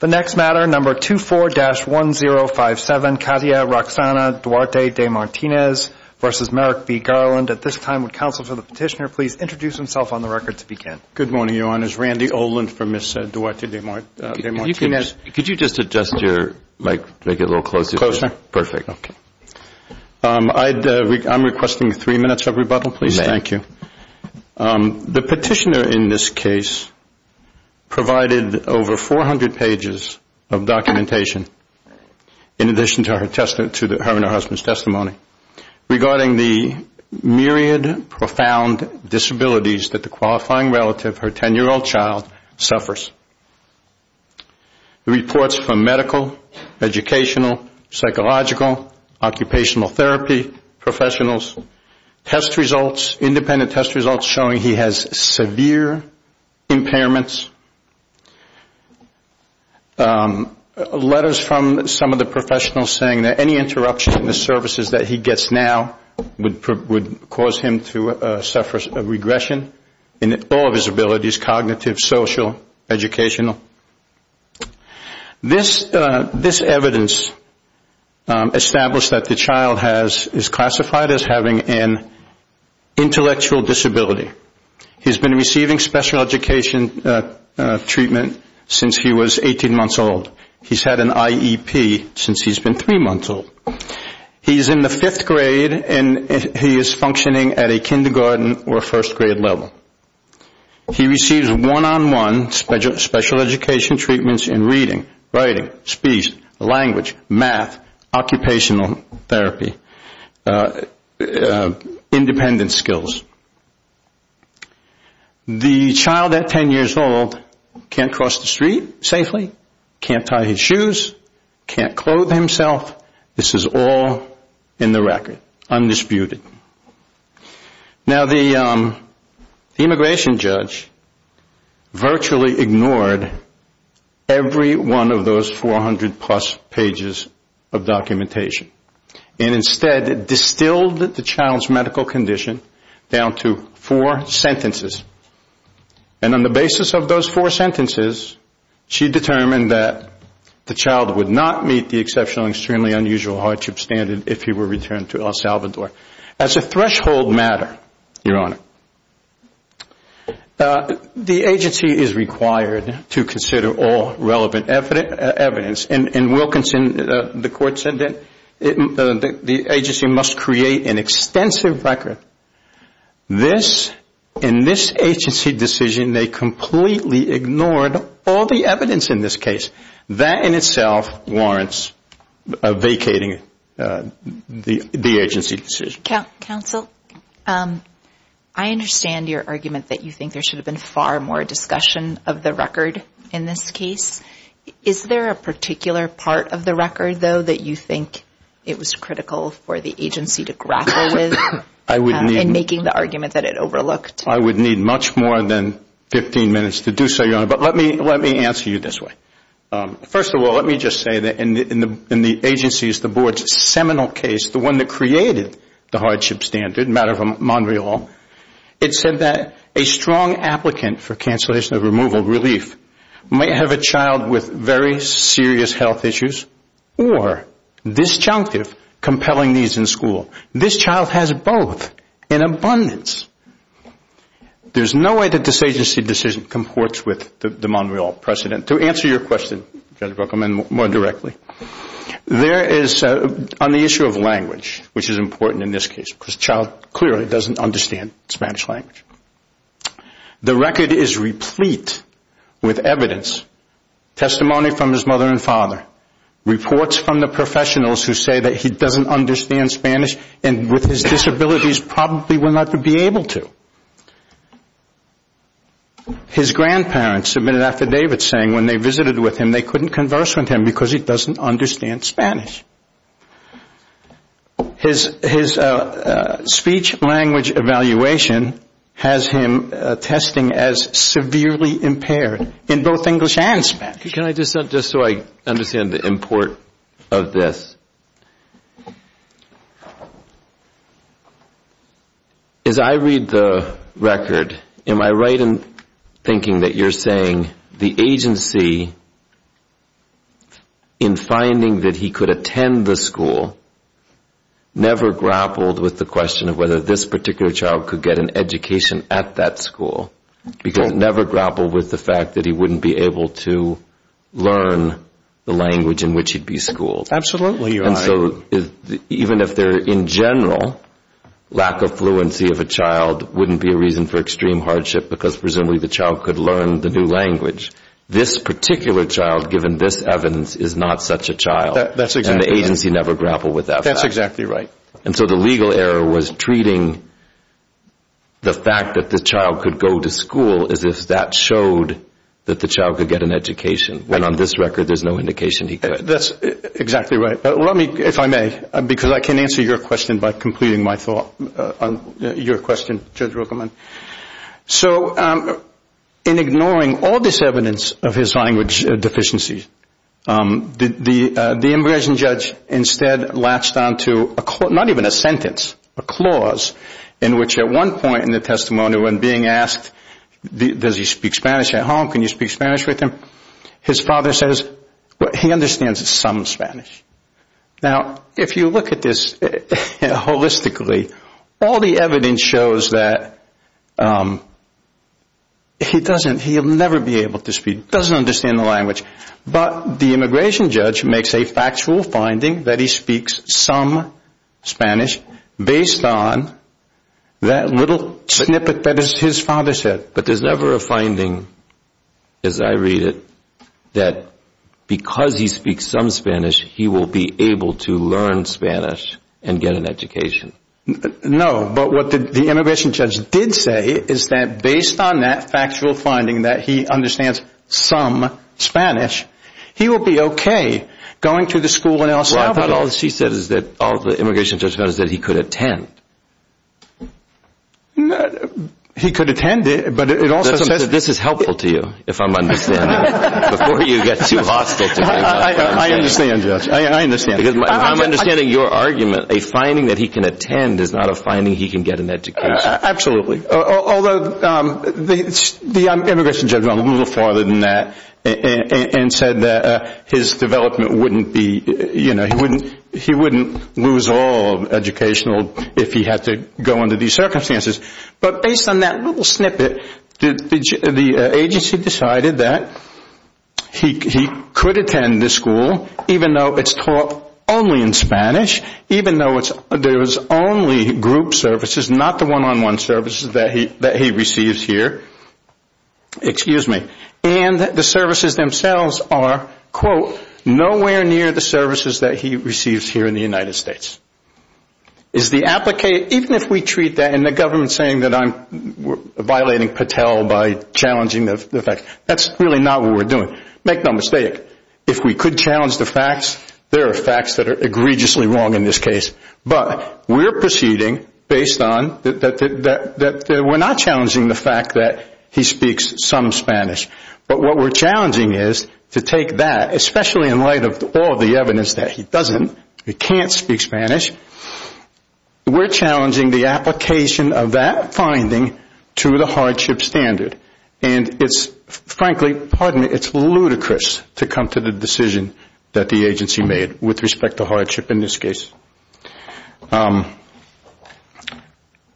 The next matter, number 24-1057, Katia Roxana Duarte De Martinez v. Merrick B. Garland. At this time, would counsel for the petitioner please introduce himself on the record to begin? Good morning, Your Honors. Randy Oland from Ms. Duarte De Martinez. Could you just adjust your mic, make it a little closer? Closer. Perfect. Okay. I'm requesting three minutes of rebuttal, please. Okay. Thank you. The petitioner in this case provided over 400 pages of documentation in addition to her and her husband's testimony regarding the myriad, profound disabilities that the qualifying relative, her 10-year-old child, suffers. Reports from medical, educational, psychological, occupational therapy professionals, test results, independent test results showing he has severe impairments, letters from some of the professionals saying that any interruption in the services that he gets now would cause him to suffer regression in all of his abilities, cognitive, social, educational. This evidence established that the child is classified as having an intellectual disability. He's been receiving special education treatment since he was 18 months old. He's had an IEP since he's been three months old. He's in the fifth grade and he is functioning at a kindergarten or first grade level. He receives one-on-one special education treatments in reading, writing, speech, language, math, occupational therapy, independent skills. The child at 10 years old can't cross the street safely, can't tie his shoes, can't clothe himself. This is all in the record, undisputed. Now, the immigration judge virtually ignored every one of those 400-plus pages of documentation and instead distilled the child's medical condition down to four sentences. And on the basis of those four sentences, she determined that the child would not meet the As a threshold matter, Your Honor, the agency is required to consider all relevant evidence. And Wilkinson, the court said that the agency must create an extensive record. This, in this agency decision, they completely ignored all the evidence in this case. That in itself warrants vacating the agency decision. Thank you. Counsel, I understand your argument that you think there should have been far more discussion of the record in this case. Is there a particular part of the record, though, that you think it was critical for the agency to grapple with in making the argument that it overlooked? I would need much more than 15 minutes to do so, Your Honor, but let me answer you this way. First of all, let me just say that in the agency's, the board's, seminal case, the one that created the hardship standard, a matter for Monreal, it said that a strong applicant for cancellation of removal relief might have a child with very serious health issues or disjunctive compelling needs in school. This child has both in abundance. There's no way that this agency decision comports with the Monreal precedent. To answer your question, Judge Bookman, more directly, there is, on the issue of language, which is important in this case, because the child clearly doesn't understand Spanish language, the record is replete with evidence, testimony from his mother and father, reports from the professionals who say that he doesn't understand Spanish and with his disabilities probably will not be able to. His grandparents submitted affidavits saying when they visited with him they couldn't converse with him because he doesn't understand Spanish. His speech language evaluation has him testing as severely impaired in both English and Spanish. Can I just, just so I understand the import of this. As I read the record, am I right in thinking that you're saying the agency in finding that he could attend the school never grappled with the question of whether this particular child could get an education at that school, because it never grappled with the fact that he wouldn't be able to learn the language in which he'd be schooled? Absolutely, you're right. And so even if there, in general, lack of fluency of a child wouldn't be a reason for extreme hardship because presumably the child could learn the new language. This particular child, given this evidence, is not such a child. And the agency never grappled with that. That's exactly right. And so the legal error was treating the fact that the child could go to school as if that showed that the child could get an education, when on this record there's no indication he could. That's exactly right. Let me, if I may, because I can answer your question by completing my thought on your question, Judge Ruckelman. So in ignoring all this evidence of his language deficiency, the immigration judge instead latched on to not even a sentence, a clause in which at one point in the testimony when being asked does he speak Spanish at home, can you speak Spanish with him, his father says he understands some Spanish. Now, if you look at this holistically, all the evidence shows that he doesn't, he'll never be able to speak, doesn't understand the language. But the immigration judge makes a factual finding that he speaks some Spanish based on that little snippet that his father said. But there's never a finding, as I read it, that because he speaks some Spanish, he will be able to learn Spanish and get an education. No, but what the immigration judge did say is that based on that factual finding that he understands some Spanish, he will be okay going to the school in El Salvador. Well, I thought all she said is that all the immigration judge found is that he could attend. He could attend, but it also says... This is helpful to you, if I'm understanding, before you get too hostile to me. I understand, Judge. I understand. I'm understanding your argument. A finding that he can attend is not a finding he can get an education. Absolutely. Although the immigration judge went a little farther than that and said that his development wouldn't be, you know, he wouldn't lose all educational if he had to go under these circumstances. But based on that little snippet, the agency decided that he could attend this school, even though it's taught only in Spanish, even though there's only group services, not the one-on-one services that he receives here. Excuse me. And the services themselves are, quote, nowhere near the services that he receives here in the United States. Even if we treat that and the government is saying that I'm violating Patel by challenging the facts, that's really not what we're doing. Make no mistake, if we could challenge the facts, there are facts that are egregiously wrong in this case. But we're proceeding based on that we're not challenging the fact that he speaks some Spanish. But what we're challenging is to take that, especially in light of all the evidence that he doesn't, he can't speak Spanish, we're challenging the application of that finding to the hardship standard. And it's, frankly, pardon me, it's ludicrous to come to the decision that the agency made with respect to hardship in this case.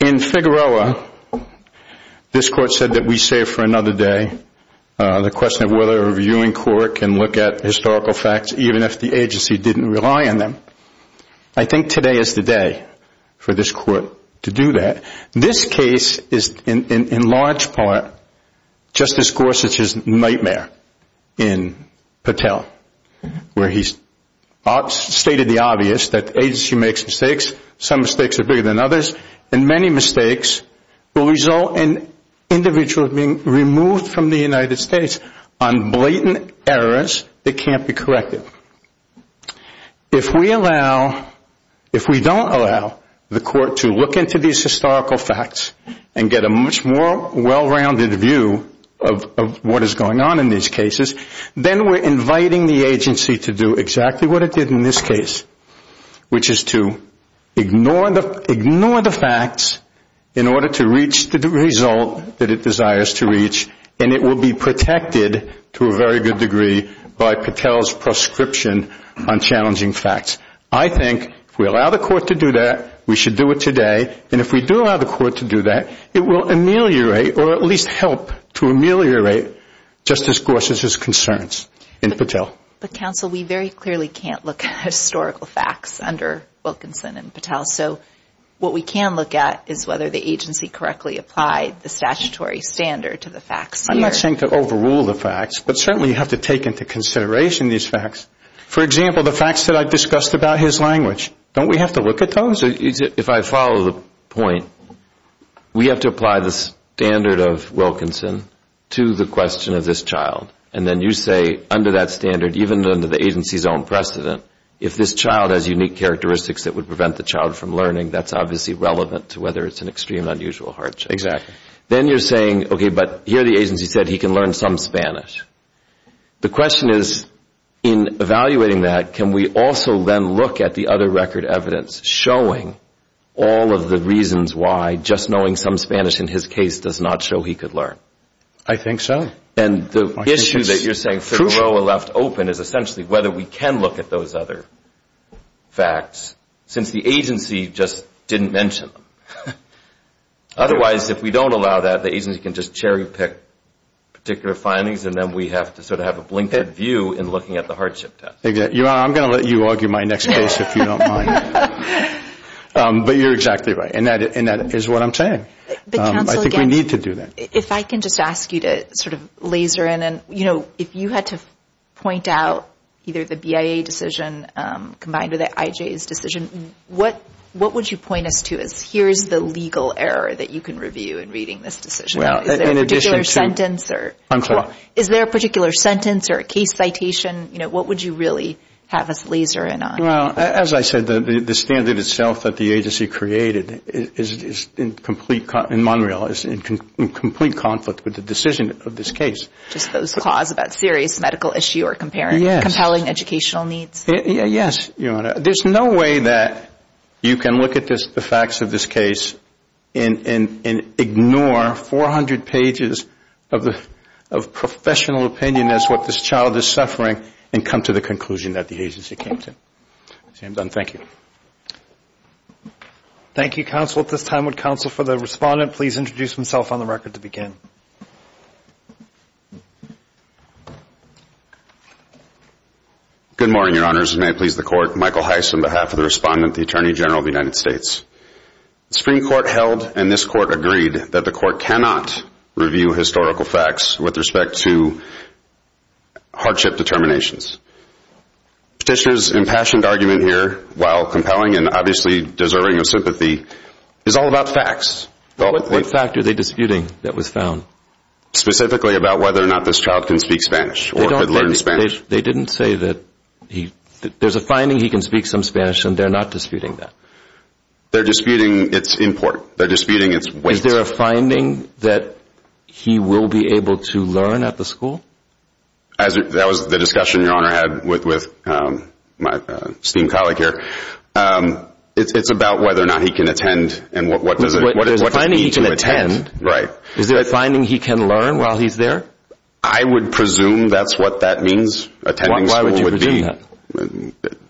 In Figueroa, this court said that we save for another day the question of whether a reviewing court can look at historical facts, even if the agency didn't rely on them. I think today is the day for this court to do that. This case is, in large part, Justice Gorsuch's nightmare in Patel, where he's stated the obvious that the agency makes mistakes, some mistakes are bigger than others, and many mistakes will result in individuals being removed from the United States on blatant errors that can't be corrected. If we allow, if we don't allow the court to look into these historical facts and get a much more well-rounded view of what is going on in these cases, then we're inviting the agency to do exactly what it did in this case, which is to ignore the facts in order to reach the result that it desires to reach, and it will be protected to a very good degree by Patel's proscription on challenging facts. I think if we allow the court to do that, we should do it today, and if we do allow the court to do that, it will ameliorate or at least help to ameliorate Justice Gorsuch's concerns in Patel. But, counsel, we very clearly can't look at historical facts under Wilkinson and Patel, so what we can look at is whether the agency correctly applied the statutory standard to the facts here. I'm not saying to overrule the facts, but certainly you have to take into consideration these facts. For example, the facts that I've discussed about his language, don't we have to look at those? If I follow the point, we have to apply the standard of Wilkinson to the question of this child, and then you say under that standard, even under the agency's own precedent, if this child has unique characteristics that would prevent the child from learning, that's obviously relevant to whether it's an extreme, unusual hardship. Exactly. Then you're saying, okay, but here the agency said he can learn some Spanish. The question is, in evaluating that, can we also then look at the other record evidence showing all of the reasons why just knowing some Spanish in his case does not show he could learn? I think so. And the issue that you're saying to throw a left open is essentially whether we can look at those other facts, since the agency just didn't mention them. Otherwise, if we don't allow that, the agency can just cherry pick particular findings, and then we have to sort of have a blinkered view in looking at the hardship test. Your Honor, I'm going to let you argue my next case if you don't mind. But you're exactly right, and that is what I'm saying. I think we need to do that. If I can just ask you to sort of laser in. If you had to point out either the BIA decision combined with the IJ's decision, what would you point us to as here's the legal error that you can review in reading this decision? Is there a particular sentence or a case citation? What would you really have us laser in on? Well, as I said, the standard itself that the agency created is in complete conflict with the decision of this case. Just those clause about serious medical issue or compelling educational needs? Yes, Your Honor. There's no way that you can look at the facts of this case and ignore 400 pages of professional opinion as what this child is suffering and come to the conclusion that the agency came to. Sam Dunn, thank you. Thank you, counsel. At this time, would counsel for the respondent please introduce himself on the record to begin? Good morning, Your Honors, and may it please the Court. Michael Heiss on behalf of the respondent, the Attorney General of the United States. The Supreme Court held and this Court agreed that the Court cannot review historical facts with respect to hardship determinations. Petitioner's impassioned argument here, while compelling and obviously deserving of sympathy, is all about facts. What fact are they disputing that was found? Specifically about whether or not this child can speak Spanish or could learn Spanish. They didn't say that. There's a finding he can speak some Spanish and they're not disputing that. They're disputing its import. They're disputing its weight. Is there a finding that he will be able to learn at the school? That was the discussion Your Honor had with my esteemed colleague here. It's about whether or not he can attend and what does it mean to attend. Is there a finding he can learn while he's there? I would presume that's what that means. Why would you presume that?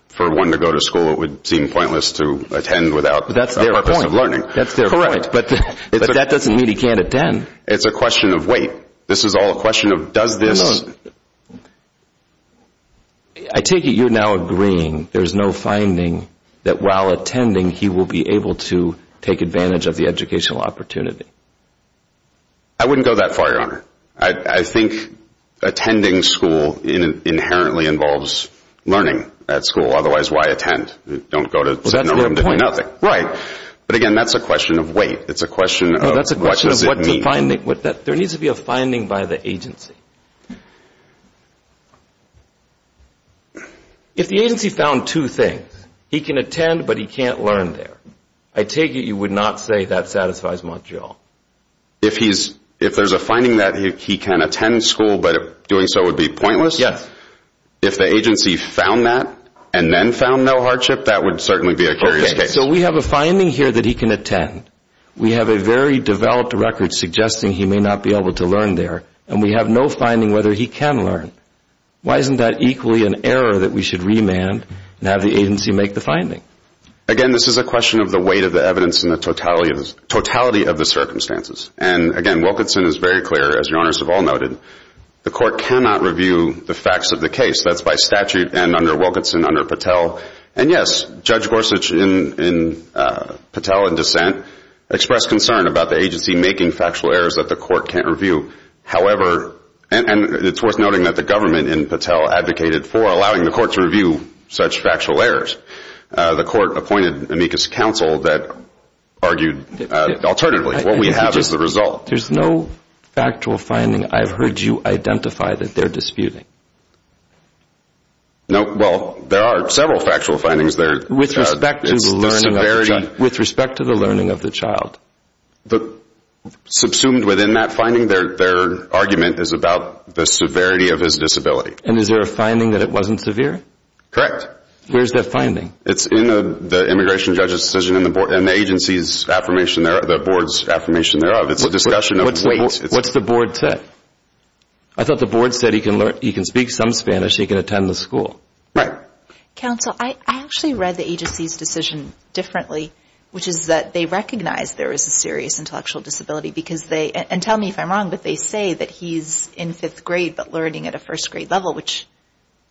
For one to go to school it would seem pointless to attend without a purpose of learning. That's their point. But that doesn't mean he can't attend. It's a question of weight. This is all a question of does this... I take it you're now agreeing there's no finding that while attending he will be able to take advantage of the educational opportunity. I wouldn't go that far, Your Honor. I think attending school inherently involves learning at school. Otherwise, why attend? Don't go to... That's their point. Right. But again, that's a question of weight. It's a question of what does it mean. There needs to be a finding by the agency. If the agency found two things, he can attend but he can't learn there, I take it you would not say that satisfies Montreal. If there's a finding that he can attend school but doing so would be pointless? Yes. If the agency found that and then found no hardship, that would certainly be a curious case. Okay. So we have a finding here that he can attend. We have a very developed record suggesting he may not be able to learn there, and we have no finding whether he can learn. Why isn't that equally an error that we should remand and have the agency make the finding? Again, this is a question of the weight of the evidence and the totality of the circumstances. And again, Wilkinson is very clear, as Your Honors have all noted, the court cannot review the facts of the case. That's by statute and under Wilkinson, under Patel. And yes, Judge Gorsuch in Patel in dissent expressed concern about the agency making factual errors that the court can't review. However, and it's worth noting that the government in Patel advocated for allowing the court to review such factual errors. The court appointed amicus counsel that argued alternatively. What we have is the result. There's no factual finding. I've heard you identify that they're disputing. No. Well, there are several factual findings. With respect to the learning of the child. With respect to the learning of the child. Subsumed within that finding, their argument is about the severity of his disability. And is there a finding that it wasn't severe? Correct. Where's that finding? It's in the immigration judge's decision and the agency's affirmation, the board's affirmation thereof. It's a discussion of the board. What's the board say? I thought the board said he can speak some Spanish, he can attend the school. Right. Counsel, I actually read the agency's decision differently, which is that they recognize there is a serious intellectual disability because they, and tell me if I'm wrong, but they say that he's in fifth grade but learning at a first grade level, which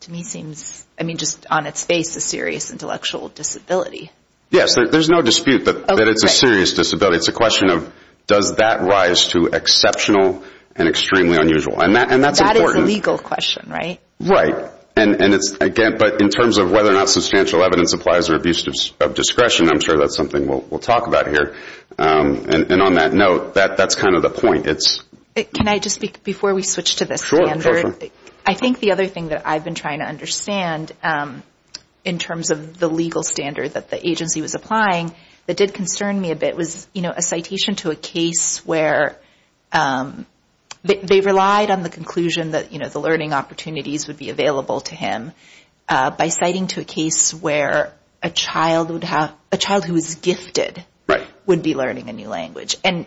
to me seems, I mean, just on its face a serious intellectual disability. Yes, there's no dispute that it's a serious disability. It's a question of does that rise to exceptional and extremely unusual. That is a legal question, right? Right. But in terms of whether or not substantial evidence applies or abuse of discretion, I'm sure that's something we'll talk about here. And on that note, that's kind of the point. Can I just, before we switch to this, I think the other thing that I've been trying to understand in terms of the legal standard that the agency was applying that did concern me a bit was a citation to a case where they relied on the conclusion that the learning opportunities would be available to him by citing to a case where a child who was gifted would be learning a new language. And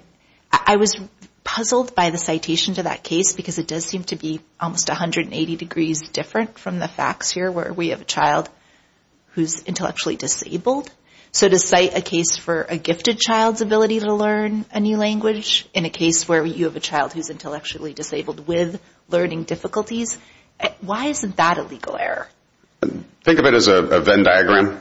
I was puzzled by the citation to that case because it does seem to be almost 180 degrees different from the facts here where we have a child who's intellectually disabled. So to cite a case for a gifted child's ability to learn a new language in a case where you have a child who's intellectually disabled with learning difficulties, why isn't that a legal error? Think of it as a Venn diagram,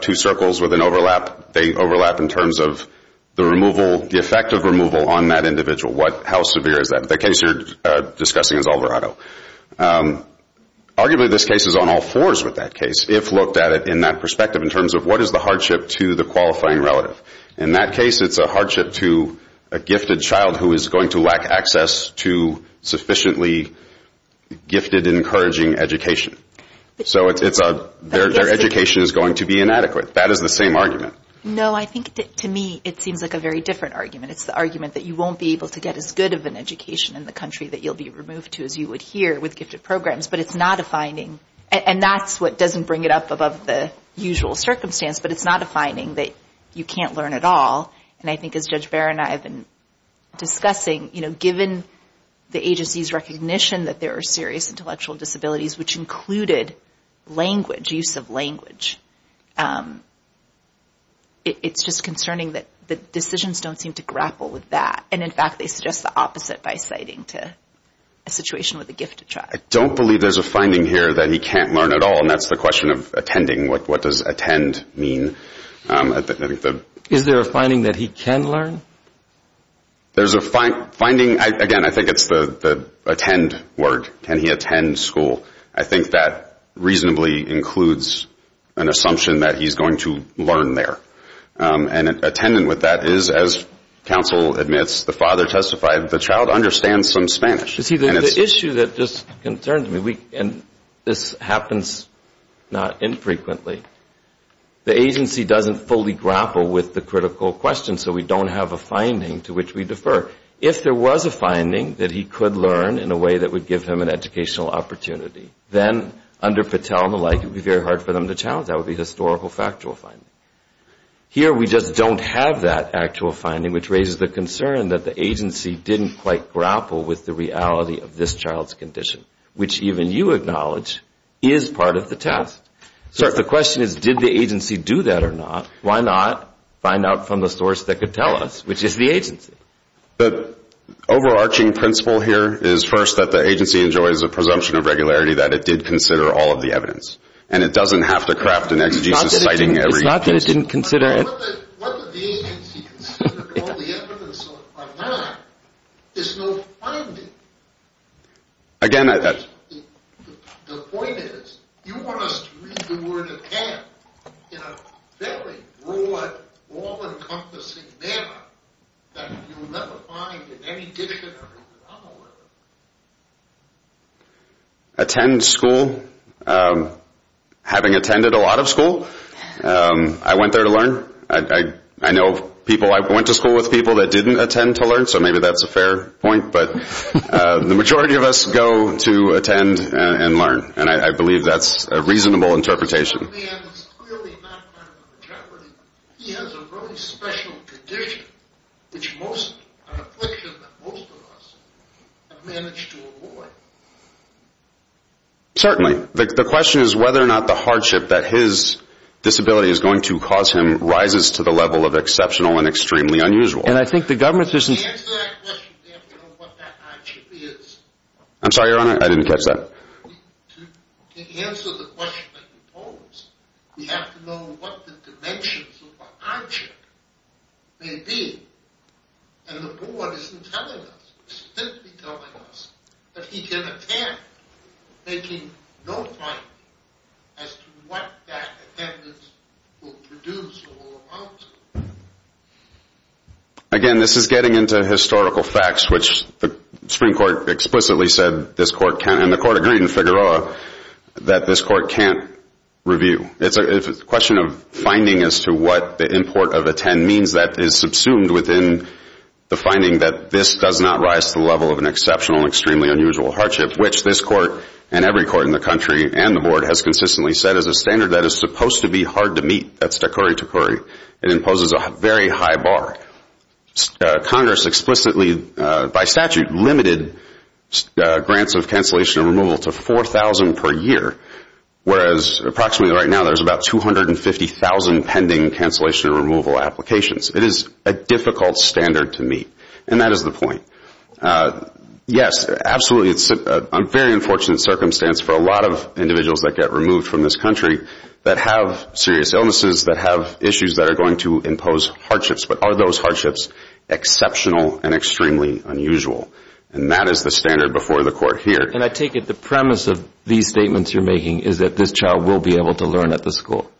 two circles with an overlap. They overlap in terms of the removal, the effect of removal on that individual. How severe is that? The case you're discussing is Alvarado. Arguably this case is on all fours with that case if looked at it in that perspective in terms of what is the hardship to the qualifying relative. In that case it's a hardship to a gifted child who is going to lack access to sufficiently gifted and encouraging education. So their education is going to be inadequate. That is the same argument. No, I think to me it seems like a very different argument. It's the argument that you won't be able to get as good of an education in the country that you'll be removed to as you would here with gifted programs. But it's not a finding. And that's what doesn't bring it up above the usual circumstance, but it's not a finding that you can't learn at all. And I think as Judge Barron and I have been discussing, given the agency's recognition that there are serious intellectual disabilities, which included language, use of language, it's just concerning that the decisions don't seem to grapple with that. And, in fact, they suggest the opposite by citing a situation with a gifted child. I don't believe there's a finding here that he can't learn at all, and that's the question of attending. What does attend mean? Is there a finding that he can learn? There's a finding. Again, I think it's the attend word. Can he attend school? I think that reasonably includes an assumption that he's going to learn there. And attendant with that is, as counsel admits, the father testified, the child understands some Spanish. You see, the issue that just concerns me, and this happens not infrequently, the agency doesn't fully grapple with the critical question, so we don't have a finding to which we defer. If there was a finding that he could learn in a way that would give him an educational opportunity, then under Patel and the like, it would be very hard for them to challenge. That would be historical factual finding. Here we just don't have that actual finding, which raises the concern that the agency didn't quite grapple with the reality of this child's condition, which even you acknowledge is part of the test. So the question is, did the agency do that or not? Why not find out from the source that could tell us, which is the agency? The overarching principle here is, first, that the agency enjoys a presumption of regularity that it did consider all of the evidence, and it doesn't have to craft an ex justice citing every case. It's not that it didn't consider it. What the agency considered all the evidence of or not is no finding. Again, I think the point is, you want us to read the word of Pat in a fairly broad, all-encompassing manner that you'll never find in any dictionary. Attend school. Having attended a lot of school, I went there to learn. I know people I went to school with, people that didn't attend to learn, so maybe that's a fair point, but the majority of us go to attend and learn, and I believe that's a reasonable interpretation. Certainly. The question is whether or not the hardship that his disability is going to cause him rises to the level of exceptional and extremely unusual. To answer that question, we have to know what that hardship is. To answer the question that you pose, we have to know what the dimensions of the hardship may be, and the board isn't telling us, it's simply telling us that he can attend, making no finding as to what that attendance will produce or will amount to. Again, this is getting into historical facts, which the Supreme Court explicitly said this court can't, and the court agreed in Figueroa that this court can't review. It's a question of finding as to what the import of attend means that is subsumed within the finding that this does not rise to the level of an exceptional and extremely unusual hardship, which this court and every court in the country and the board has consistently said is a standard that is supposed to be hard to meet. It imposes a very high bar. Congress explicitly, by statute, limited grants of cancellation and removal to 4,000 per year, whereas approximately right now there's about 250,000 pending cancellation and removal applications. It is a difficult standard to meet, and that is the point. Yes, absolutely, it's a very unfortunate circumstance for a lot of individuals that get removed from this country that have serious illnesses, that have issues that are going to impose hardships, but are those hardships exceptional and extremely unusual? And that is the standard before the court here. And I take it the premise of these statements you're making is that this child will be able to learn at the school.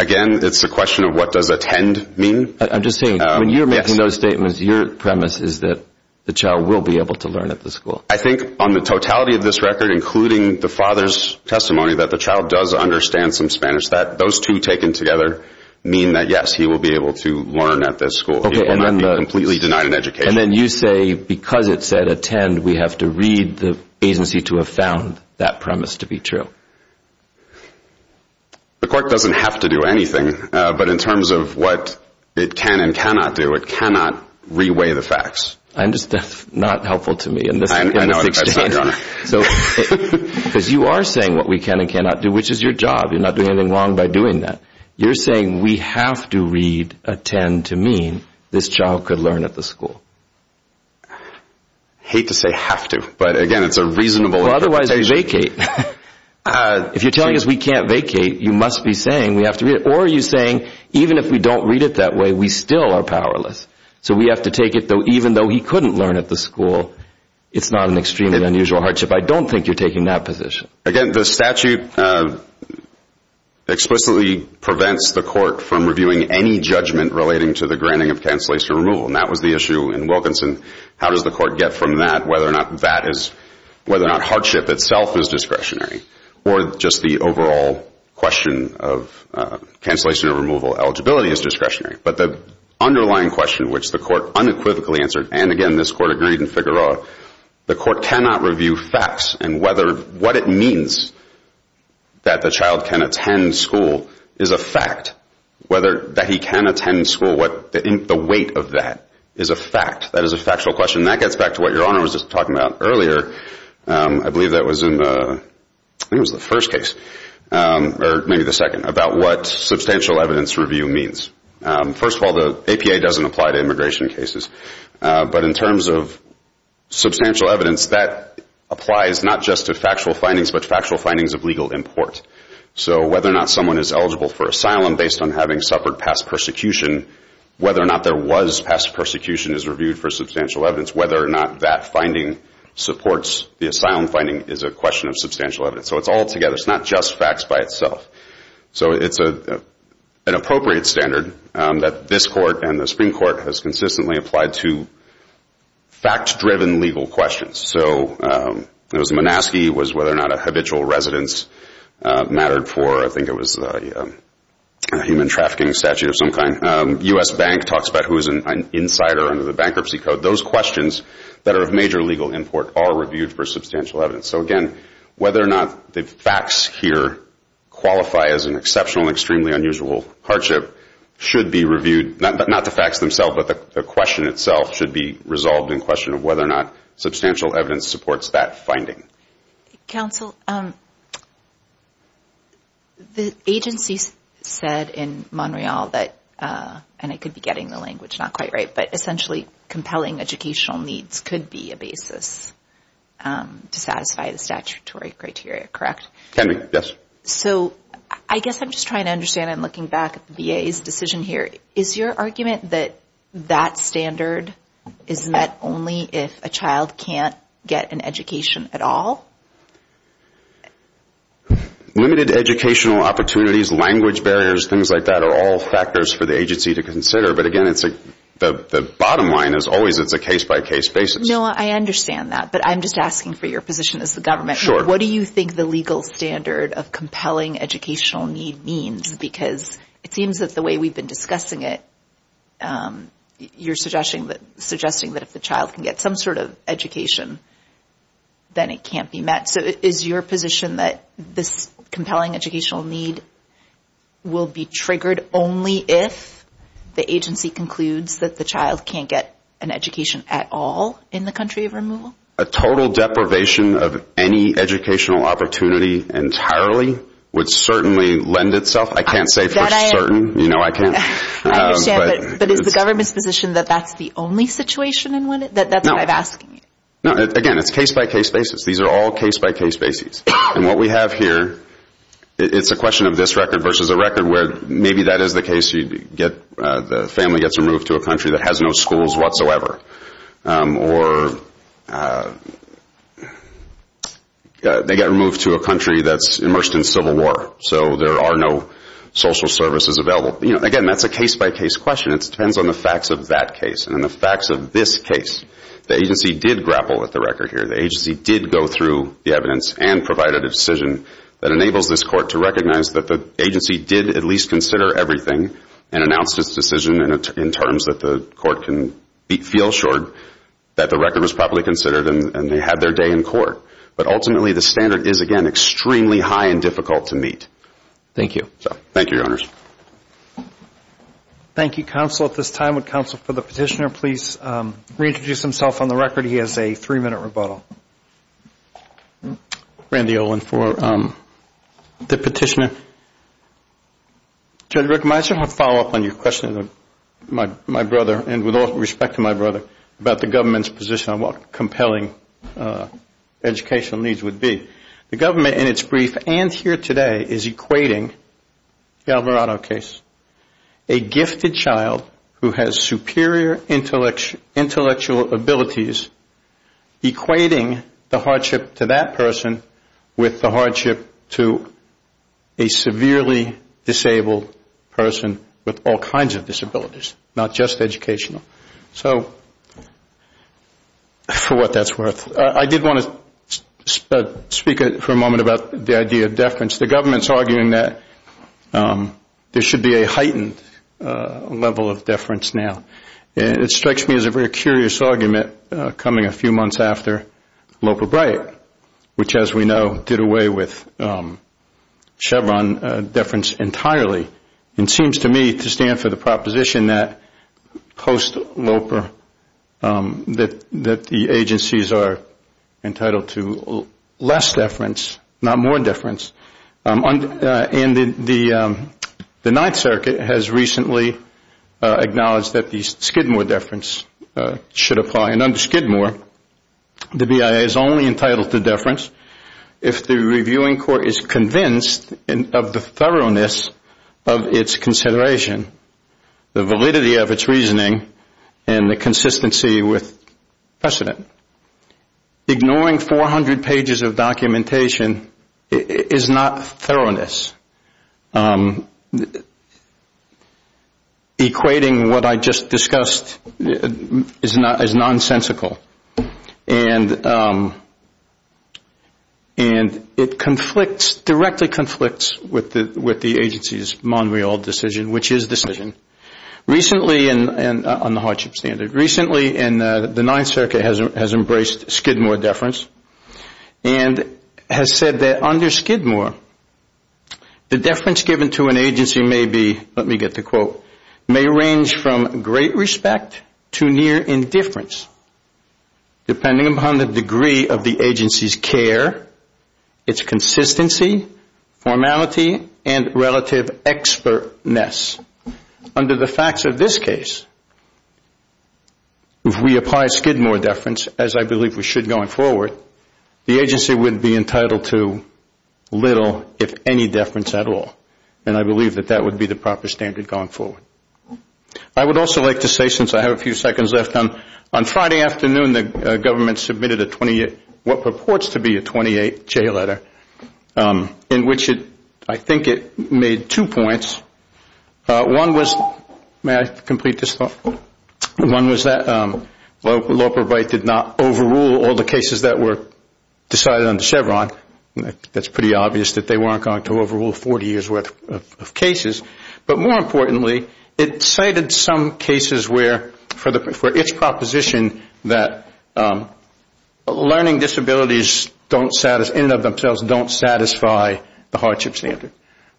Again, it's a question of what does attend mean. I'm just saying, when you're making those statements, your premise is that the child will be able to learn at the school. I think on the totality of this record, including the father's testimony that the child does understand some Spanish, that those two taken together mean that, yes, he will be able to learn at this school. He will not be completely denied an education. And then you say because it said attend, we have to read the agency to have found that premise to be true. The court doesn't have to do anything, but in terms of what it can and cannot do, it cannot reweigh the facts. That's not helpful to me in this exchange. I know it's not, Your Honor. Because you are saying what we can and cannot do, which is your job. You're not doing anything wrong by doing that. You're saying we have to read attend to mean this child could learn at the school. I hate to say have to, but, again, it's a reasonable interpretation. Well, otherwise vacate. If you're telling us we can't vacate, you must be saying we have to read it. Or you're saying even if we don't read it that way, we still are powerless. So we have to take it that even though he couldn't learn at the school, it's not an extremely unusual hardship. I don't think you're taking that position. Again, the statute explicitly prevents the court from reviewing any judgment relating to the granting of cancellation or removal. And that was the issue in Wilkinson. How does the court get from that whether or not hardship itself is discretionary or just the overall question of cancellation or removal eligibility is discretionary? But the underlying question, which the court unequivocally answered, and, again, this court agreed in Figueroa, the court cannot review facts and whether what it means that the child can attend school is a fact, whether that he can attend school, what the weight of that is a fact. That is a factual question. And that gets back to what Your Honor was just talking about earlier. I believe that was in the first case, or maybe the second, about what substantial evidence review means. First of all, the APA doesn't apply to immigration cases. But in terms of substantial evidence, that applies not just to factual findings but factual findings of legal import. So whether or not someone is eligible for asylum based on having suffered past persecution, whether or not there was past persecution is reviewed for substantial evidence, whether or not that finding supports the asylum finding is a question of substantial evidence. So it's all together. It's not just facts by itself. So it's an appropriate standard that this court and the Supreme Court has consistently applied to fact-driven legal questions. So it was the Monaskey, it was whether or not a habitual residence mattered for, I think it was the human trafficking statute of some kind. U.S. Bank talks about who is an insider under the bankruptcy code. Those questions that are of major legal import are reviewed for substantial evidence. So, again, whether or not the facts here qualify as an exceptional and extremely unusual hardship should be reviewed. Not the facts themselves, but the question itself should be resolved in question of whether or not substantial evidence supports that finding. Counsel, the agency said in Montreal that, and I could be getting the language not quite right, but essentially compelling educational needs could be a basis to satisfy the statutory criteria, correct? Can be, yes. So I guess I'm just trying to understand, and looking back at the VA's decision here, is your argument that that standard is met only if a child can't get an education at all? Limited educational opportunities, language barriers, things like that are all factors for the agency to consider. But, again, the bottom line is always it's a case-by-case basis. No, I understand that. But I'm just asking for your position as the government. Sure. What do you think the legal standard of compelling educational need means? Because it seems that the way we've been discussing it, you're suggesting that if the child can get some sort of education, then it can't be met. So is your position that this compelling educational need will be triggered only if the agency concludes that the child can't get an education at all in the country of removal? A total deprivation of any educational opportunity entirely would certainly lend itself. I can't say for certain. You know I can't. I understand. But is the government's position that that's the only situation in which that's what I'm asking? No. Again, it's case-by-case basis. These are all case-by-case basis. And what we have here, it's a question of this record versus a record where maybe that is the case. The family gets removed to a country that has no schools whatsoever. Or they get removed to a country that's immersed in civil war. So there are no social services available. Again, that's a case-by-case question. It depends on the facts of that case and the facts of this case. The agency did grapple with the record here. The agency did go through the evidence and provide a decision that enables this court to recognize that the agency did at least consider everything and announced its decision in terms that the court can feel assured that the record was properly considered and they had their day in court. But ultimately, the standard is, again, extremely high and difficult to meet. Thank you. Thank you, Your Honors. Thank you, Counsel. At this time, would Counsel for the Petitioner please reintroduce himself on the record? He has a three-minute rebuttal. Randy Olin for the Petitioner. Judge Rick, may I just have a follow-up on your question to my brother and with all respect to my brother about the government's position on what compelling educational needs would be? The government in its brief and here today is equating the Alvarado case, a gifted child who has superior intellectual abilities equating the hardship to that person with the hardship to a severely disabled person with all kinds of disabilities, not just educational. So for what that's worth, I did want to speak for a moment about the idea of deference. The government is arguing that there should be a heightened level of deference now. It strikes me as a very curious argument coming a few months after Loper-Bright, which, as we know, did away with Chevron deference entirely. It seems to me to stand for the proposition that post-Loper that the agencies are entitled to less deference, not more deference, and the Ninth Circuit has recently acknowledged that the Skidmore deference should apply. And under Skidmore, the BIA is only entitled to deference if the reviewing court is convinced of the thoroughness of its consideration, the validity of its reasoning, and the consistency with precedent. Ignoring 400 pages of documentation is not thoroughness. Equating what I just discussed is nonsensical. And it directly conflicts with the agency's decision, which is decision. Recently, and on the hardship standard, recently the Ninth Circuit has embraced Skidmore deference and has said that under Skidmore, the deference given to an agency may be, let me get the quote, may range from great respect to near indifference, depending upon the degree of the agency's care, its consistency, formality, and relative expertness. Under the facts of this case, if we apply Skidmore deference, as I believe we should going forward, the agency would be entitled to little, if any, deference at all. And I believe that that would be the proper standard going forward. I would also like to say, since I have a few seconds left, on Friday afternoon the government submitted a 28, what purports to be a 28J letter, in which I think it made two points. One was, may I complete this thought? One was that law provide did not overrule all the cases that were decided under Chevron. That's pretty obvious that they weren't going to overrule 40 years' worth of cases. But more importantly, it cited some cases where, for its proposition that learning disabilities in and of themselves don't satisfy the hardship standard.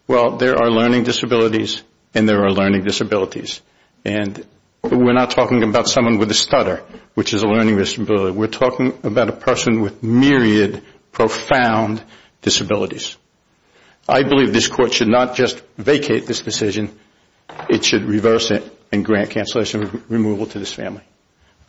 Well, there are learning disabilities and there are learning disabilities. And we're not talking about someone with a stutter, which is a learning disability. We're talking about a person with myriad, profound disabilities. I believe this Court should not just vacate this decision, it should reverse it and grant cancellation removal to this family. Thank you very much.